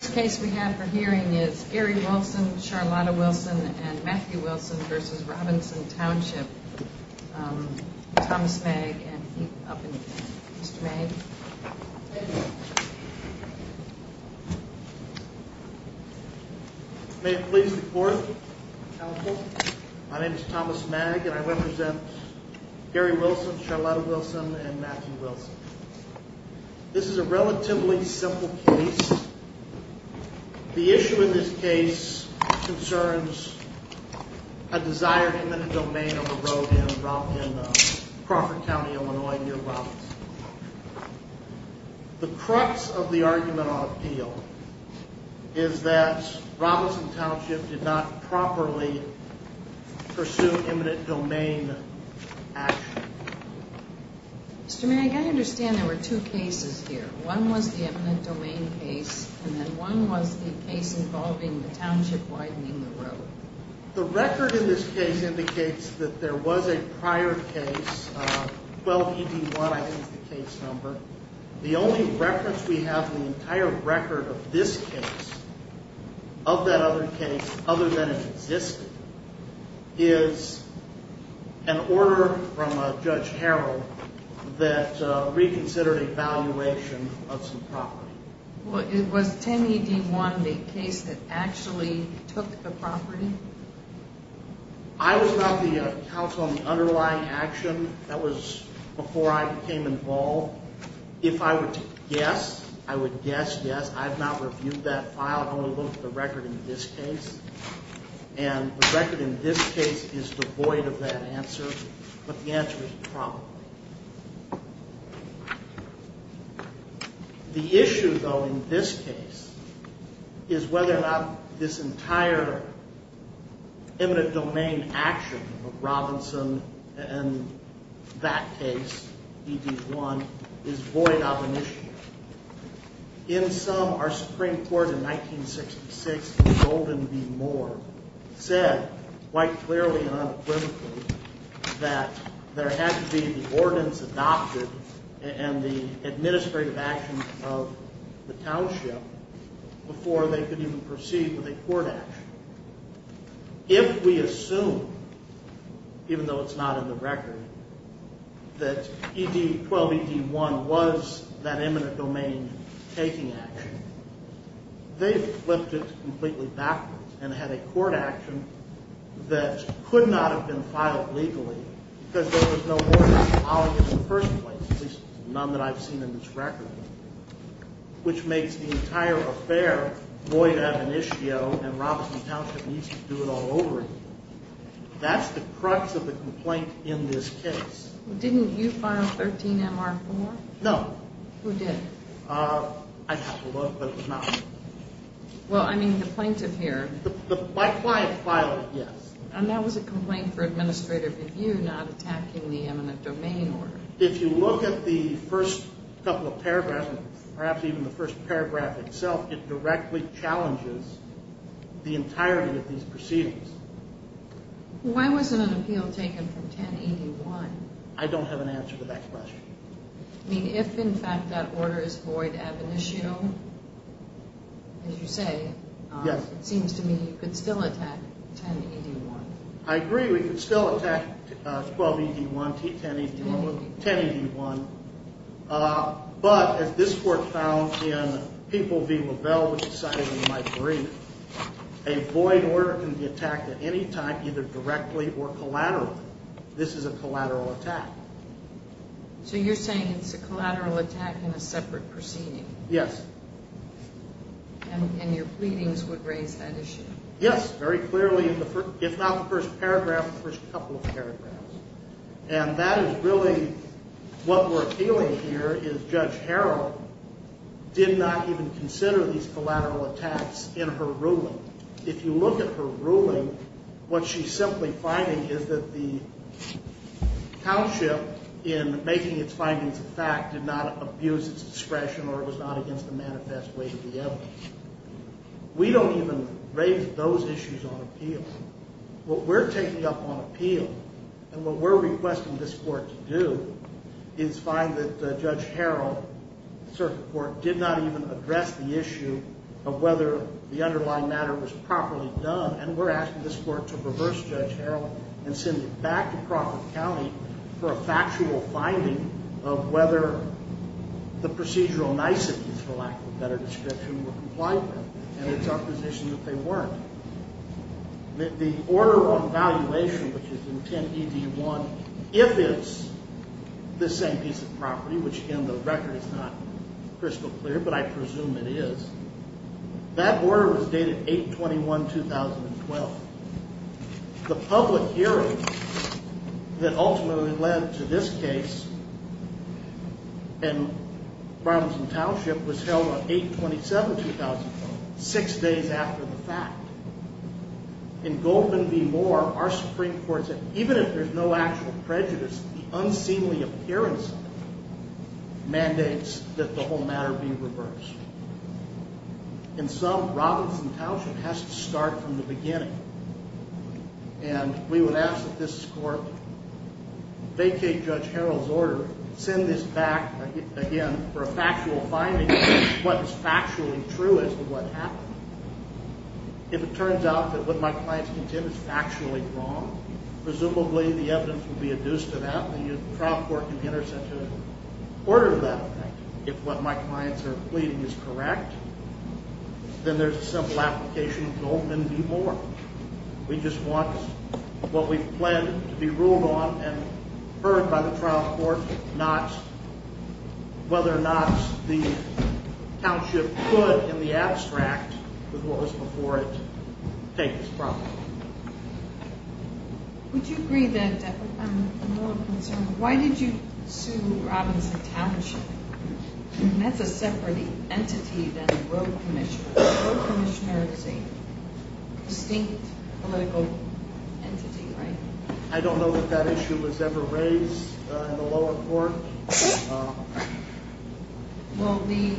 The case we have for hearing is Gary Wilson, Charlotta Wilson, and Matthew Wilson v. Robinson Township. Thomas Magg and he's up in the back. Mr. Magg. May it please the Court. Counsel. My name is Thomas Magg and I represent Gary Wilson, Charlotta Wilson, and Matthew Wilson. This is a relatively simple case. The issue in this case concerns a desired eminent domain of a road in Crawford County, Illinois near Robinson. The crux of the argument on appeal is that Robinson Township did not properly pursue eminent domain action. Mr. Magg, I understand there were two cases here. One was the eminent domain case and then one was the case involving the township widening the road. The record in this case indicates that there was a prior case, 12-ED1 I think is the case number. The only reference we have in the entire record of this case, of that other case other than it existed, is an order from Judge Harrell that reconsidered a valuation of some property. Was 10-ED1 the case that actually took the property? I was not the counsel on the underlying action. That was before I became involved. If I were to guess, I would guess yes, I have not reviewed that file. I've only looked at the record in this case. And the record in this case is devoid of that answer, but the answer is probably. The issue, though, in this case is whether or not this entire eminent domain action of Robinson and that case, ED1, is void of an issue. In sum, our Supreme Court in 1966 in Golden v. Moore said quite clearly and unequivocally that there had to be the ordinance adopted and the administrative action of the township before they could even proceed with a court action. If we assume, even though it's not in the record, that 12-ED1 was that eminent domain taking action, they flipped it completely backwards and had a court action that could not have been filed legally, because there was no ordinance following it in the first place, at least none that I've seen in this record, which makes the entire affair void of an issue and Robinson Township needs to do it all over again. That's the crux of the complaint in this case. Didn't you file 13-MR4? No. Who did? I'd have to look, but it was not me. Well, I mean, the plaintiff here. My client filed it, yes. And that was a complaint for administrative review, not attacking the eminent domain order. If you look at the first couple of paragraphs, perhaps even the first paragraph itself, it directly challenges the entirety of these proceedings. Why wasn't an appeal taken from 10-ED1? I don't have an answer to that question. I mean, if, in fact, that order is void ab initio, as you say, it seems to me you could still attack 10-ED1. I agree. We could still attack 12-ED1, 10-ED1, but as this court found in People v. LaVelle, which is cited in my brief, a void order can be attacked at any time either directly or collaterally. This is a collateral attack. So you're saying it's a collateral attack in a separate proceeding? Yes. And your pleadings would raise that issue? Yes, very clearly in the first, if not the first paragraph, the first couple of paragraphs. And that is really what we're appealing here is Judge Harrell did not even consider these collateral attacks in her ruling. If you look at her ruling, what she's simply finding is that the township, in making its findings a fact, did not abuse its discretion or was not against the manifest way to the evidence. We don't even raise those issues on appeal. What we're taking up on appeal and what we're requesting this court to do is find that Judge Harrell, the circuit court, did not even address the issue of whether the underlying matter was properly done. And we're asking this court to reverse Judge Harrell and send it back to Crawford County for a factual finding of whether the procedural niceties, for lack of a better description, were compliant. And it's our position that they weren't. The order on valuation, which is in 10ED1, if it's the same piece of property, which, again, the record is not crystal clear, but I presume it is, that order was dated 8-21-2012. The public hearing that ultimately led to this case in Robinson Township was held on 8-27-2012, six days after the fact. In Goldman v. Moore, our Supreme Court said, even if there's no actual prejudice, the unseemly appearance mandates that the whole matter be reversed. In sum, Robinson Township has to start from the beginning. And we would ask that this court vacate Judge Harrell's order, send this back, again, for a factual finding of what is factually true as to what happened. If it turns out that what my clients contend is factually wrong, presumably the evidence will be adduced to that, and the trial court can be intercepted in order to that effect. If what my clients are pleading is correct, then there's a simple application of Goldman v. Moore. We just want what we've planned to be ruled on and heard by the trial court, whether or not the township could, in the abstract, with what was before it, take this problem. Would you agree that, I'm a little concerned, why did you sue Robinson Township? That's a separate entity than the road commissioner. The road commissioner is a distinct political entity, right? I don't know if that issue was ever raised in the lower court. Well, the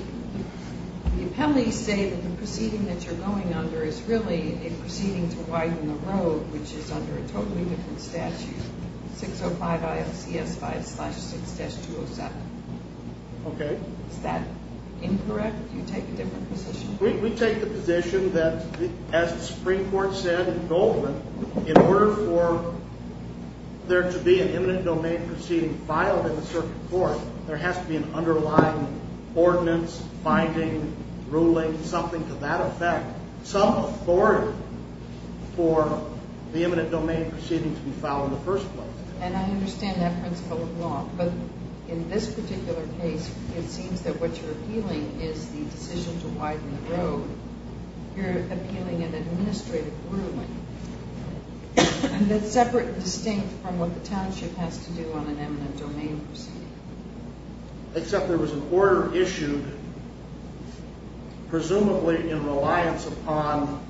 appellees say that the proceeding that you're going under is really a proceeding to widen the road, which is under a totally different statute, 605 ILCS 5-6-207. Okay. Is that incorrect? Do you take a different position? We take the position that, as the Supreme Court said in Goldman, in order for there to be an eminent domain proceeding filed in the circuit court, there has to be an underlying ordinance, finding, ruling, something to that effect, some authority for the eminent domain proceeding to be filed in the first place. And I understand that principle of law, but in this particular case, it seems that what you're appealing is the decision to widen the road. You're appealing an administrative ruling that's separate and distinct from what the township has to do on an eminent domain proceeding. Except there was an order issued, presumably in reliance upon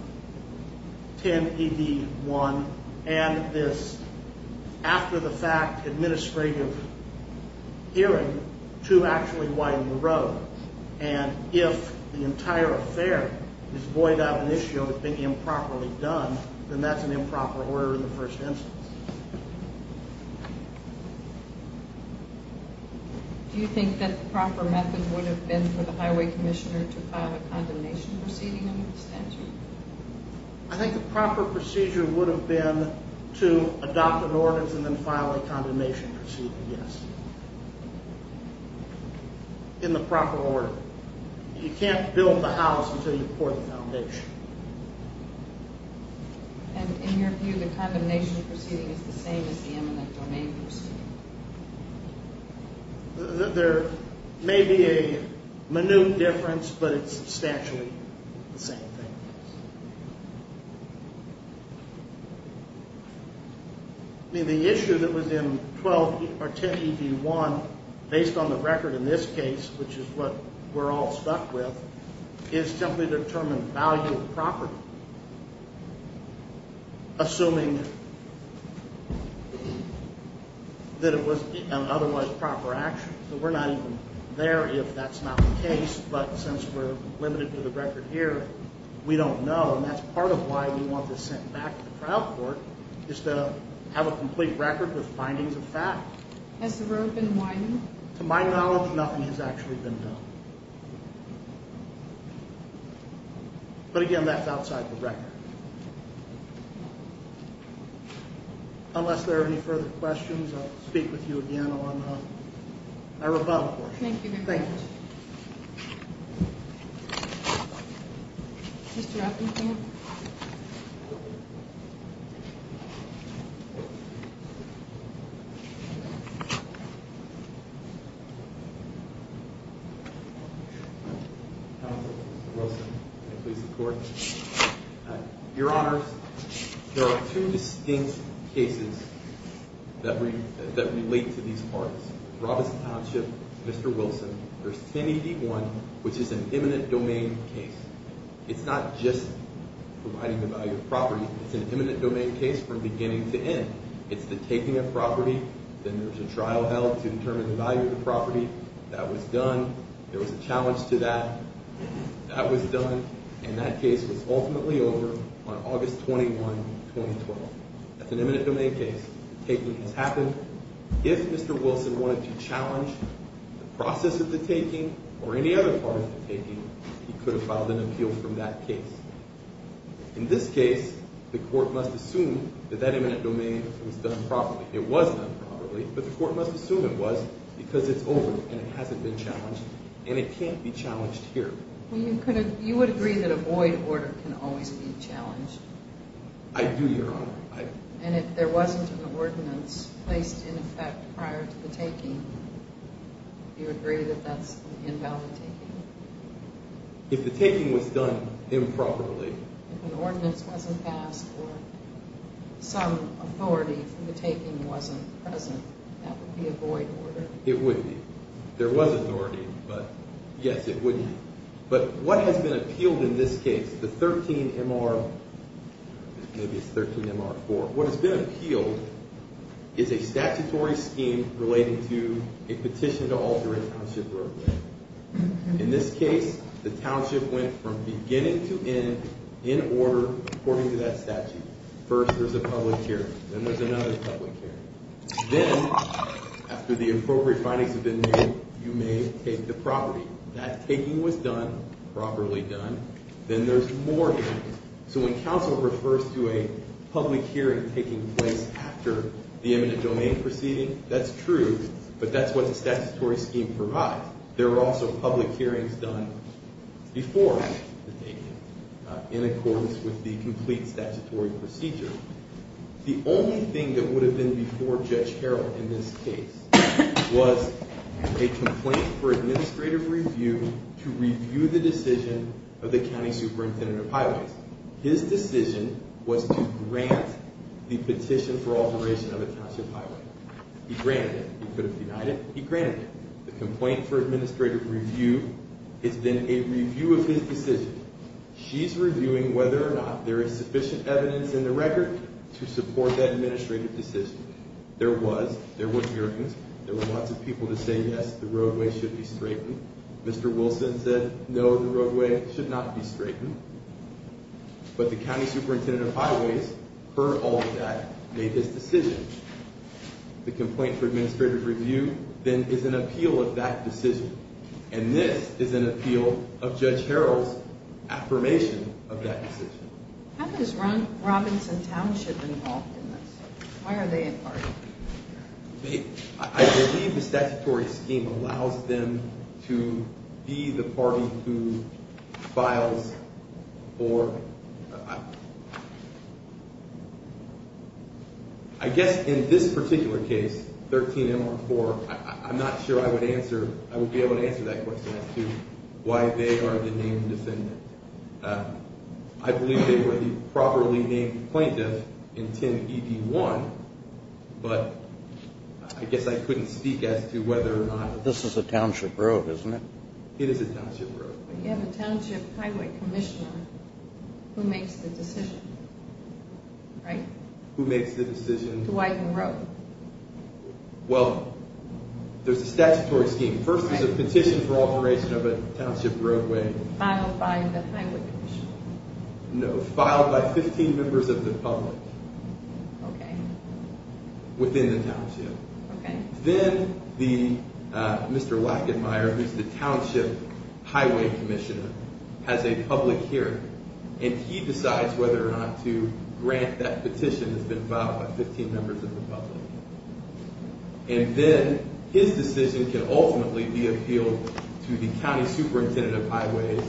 10ED1 and this after-the-fact administrative hearing to actually widen the road. And if the entire affair is void of an issue of it being improperly done, then that's an improper order in the first instance. Do you think that the proper method would have been for the highway commissioner to file a condemnation proceeding under the statute? I think the proper procedure would have been to adopt an ordinance and then file a condemnation proceeding, yes. In the proper order. You can't build the house until you pour the foundation. And in your view, the condemnation proceeding is the same as the eminent domain proceeding? There may be a minute difference, but it's substantially the same thing. I mean, the issue that was in 12 or 10ED1, based on the record in this case, which is what we're all stuck with, is simply to determine value of property, assuming that it was an otherwise proper action. So we're not even there if that's not the case, but since we're limited to the record here, we don't know. And that's part of why we want this sent back to the trial court, is to have a complete record with findings of fact. Has the road been widened? To my knowledge, nothing has actually been done. But again, that's outside the record. Unless there are any further questions, I'll speak with you again on our rebuttal portion. Thank you very much. Thank you. Mr. Atkinson? Counsel, Mr. Wilson, may I please report? Your Honors, there are two distinct cases that relate to these parts. Robinson Township, Mr. Wilson, there's 10ED1, which is an eminent domain case. It's not just providing the value of property. It's an eminent domain case from beginning to end. It's the taking of property. Then there's a trial held to determine the value of the property. That was done. There was a challenge to that. That was done. And that case was ultimately over on August 21, 2012. That's an eminent domain case. The taking has happened. If Mr. Wilson wanted to challenge the process of the taking or any other part of the taking, he could have filed an appeal from that case. In this case, the court must assume that that eminent domain was done properly. It was done properly, but the court must assume it was because it's over and it hasn't been challenged, and it can't be challenged here. You would agree that a void order can always be challenged? I do, Your Honor. And if there wasn't an ordinance placed in effect prior to the taking, do you agree that that's invalid taking? If the taking was done improperly. If an ordinance wasn't passed or some authority from the taking wasn't present, that would be a void order. It would be. There was authority, but, yes, it would be. But what has been appealed in this case? The 13MR, maybe it's 13MR4. What has been appealed is a statutory scheme relating to a petition to alter a township roadway. In this case, the township went from beginning to end in order according to that statute. First there's a public hearing. Then there's another public hearing. Then, after the appropriate findings have been made, you may take the property. That taking was done, properly done. Then there's more to it. So when counsel refers to a public hearing taking place after the eminent domain proceeding, that's true. But that's what the statutory scheme provides. There were also public hearings done before the taking in accordance with the complete statutory procedure. The only thing that would have been before Judge Harrell in this case was a complaint for administrative review to review the decision of the county superintendent of highways. His decision was to grant the petition for alteration of a township highway. He granted it. He could have denied it. He granted it. The complaint for administrative review is then a review of his decision. She's reviewing whether or not there is sufficient evidence in the record to support that administrative decision. There was. There were hearings. There were lots of people to say, yes, the roadway should be straightened. Mr. Wilson said, no, the roadway should not be straightened. But the county superintendent of highways, per all of that, made this decision. The complaint for administrative review then is an appeal of that decision. And this is an appeal of Judge Harrell's affirmation of that decision. How does Robinson Township get involved in this? Why are they a part of it? I believe the statutory scheme allows them to be the party who files for, I guess in this particular case, 13-MR-4, I'm not sure I would answer, I wouldn't be able to answer that question as to why they are the named defendant. I believe they were the properly named plaintiff in 10-ED-1, but I guess I couldn't speak as to whether or not. This is a township road, isn't it? It is a township road. You have a township highway commissioner who makes the decision, right? Who makes the decision. To widen the road. Well, there's a statutory scheme. First, there's a petition for alteration of a township roadway. Filed by the highway commissioner. No, filed by 15 members of the public. Okay. Within the township. Okay. Then, Mr. Wackenmayer, who's the township highway commissioner, has a public hearing. And he decides whether or not to grant that petition that's been filed by 15 members of the public. And then, his decision can ultimately be appealed to the county superintendent of highways,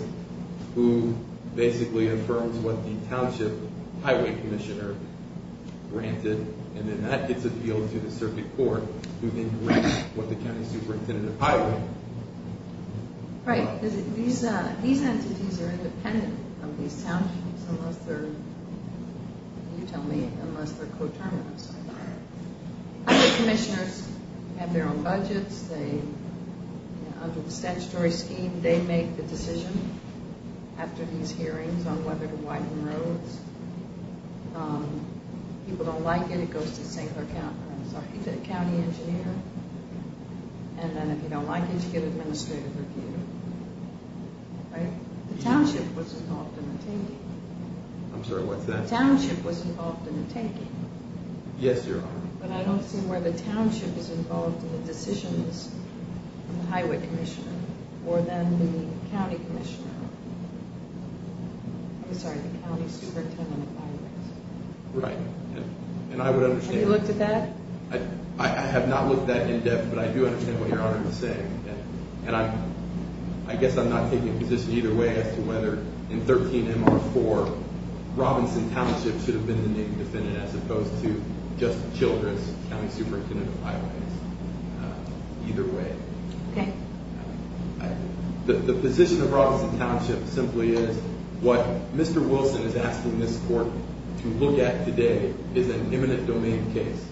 who basically affirms what the township highway commissioner granted. And then that gets appealed to the circuit court, who then grants what the county superintendent of highways. Right. These entities are independent of these townships, unless they're, you tell me, unless they're co-terminants. Highway commissioners have their own budgets. They, under the statutory scheme, they make the decision, after these hearings, on whether to widen roads. If people don't like it, it goes to the singular county engineer. And then if you don't like it, you get an administrative review. Right. The township was involved in the taking. I'm sorry, what's that? The township was involved in the taking. Yes, Your Honor. But I don't see where the township is involved in the decisions of the highway commissioner. Or then the county commissioner. I'm sorry, the county superintendent of highways. Right. And I would understand. Have you looked at that? I have not looked at that in depth, but I do understand what Your Honor is saying. And I guess I'm not taking a position either way as to whether in 13-MR-4, Robinson Township should have been the name of the defendant, as opposed to just Childress County Superintendent of Highways. Either way. Okay. The position of Robinson Township simply is, what Mr. Wilson is asking this court to look at today is an imminent domain case.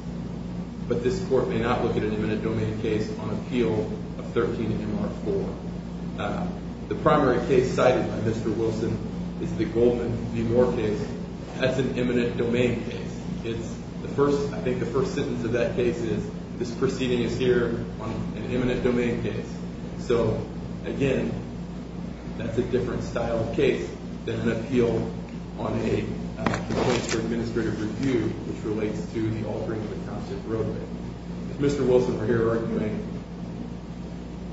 But this court may not look at an imminent domain case on appeal of 13-MR-4. The primary case cited by Mr. Wilson is the Goldman v. Moore case. That's an imminent domain case. I think the first sentence of that case is, this proceeding is here on an imminent domain case. So, again, that's a different style of case than an appeal on a complaint for administrative review, which relates to the alteration of the Township Roadway. If Mr. Wilson were here arguing,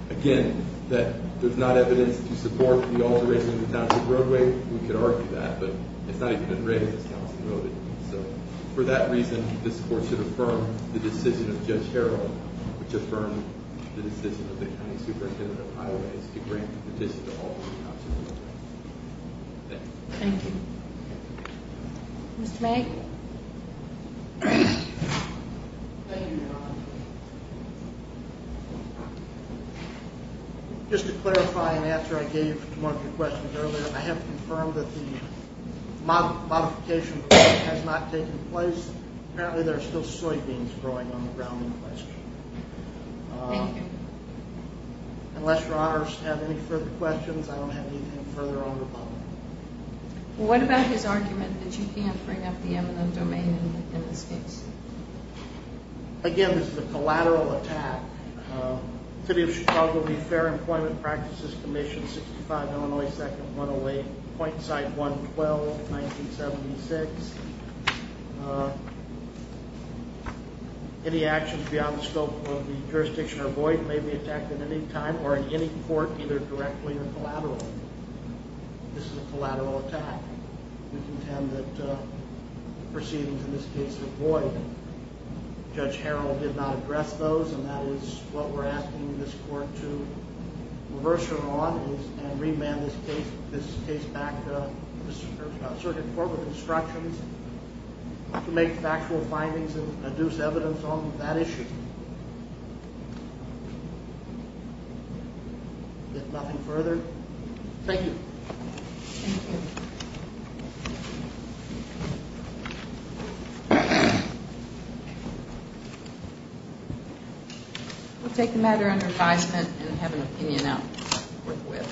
again, that there's not evidence to support the alteration of the Township Roadway, we could argue that. But it's not even been raised as counsel noted. So, for that reason, this court should affirm the decision of Judge Harrell, which affirmed the decision of the County Superintendent of Highways to grant the petition to alter the Township Roadway. Thank you. Thank you. Mr. May? Thank you, Your Honor. Just to clarify an answer I gave to one of your questions earlier, I have confirmed that the modification has not taken place. Apparently, there are still soybeans growing on the ground in question. Thank you. Unless Your Honors have any further questions, I don't have anything further on the problem. What about his argument that you can't bring up the imminent domain in this case? Again, this is a collateral attack. City of Chicago, the Fair Employment Practices Commission, 65 Illinois 2nd, 108, Pointside 112, 1976. Any actions beyond the scope of the jurisdiction are void and may be attacked at any time or in any court, either directly or collaterally. This is a collateral attack. We contend that proceedings in this case are void. Judge Harrell did not address those, and that is what we're asking this court to reverse it on and remand this case back to the Circuit Court with instructions to make factual findings and adduce evidence on that issue. Is there nothing further? Thank you. Thank you. We'll take the matter under advisement and have an opinion I'll work with.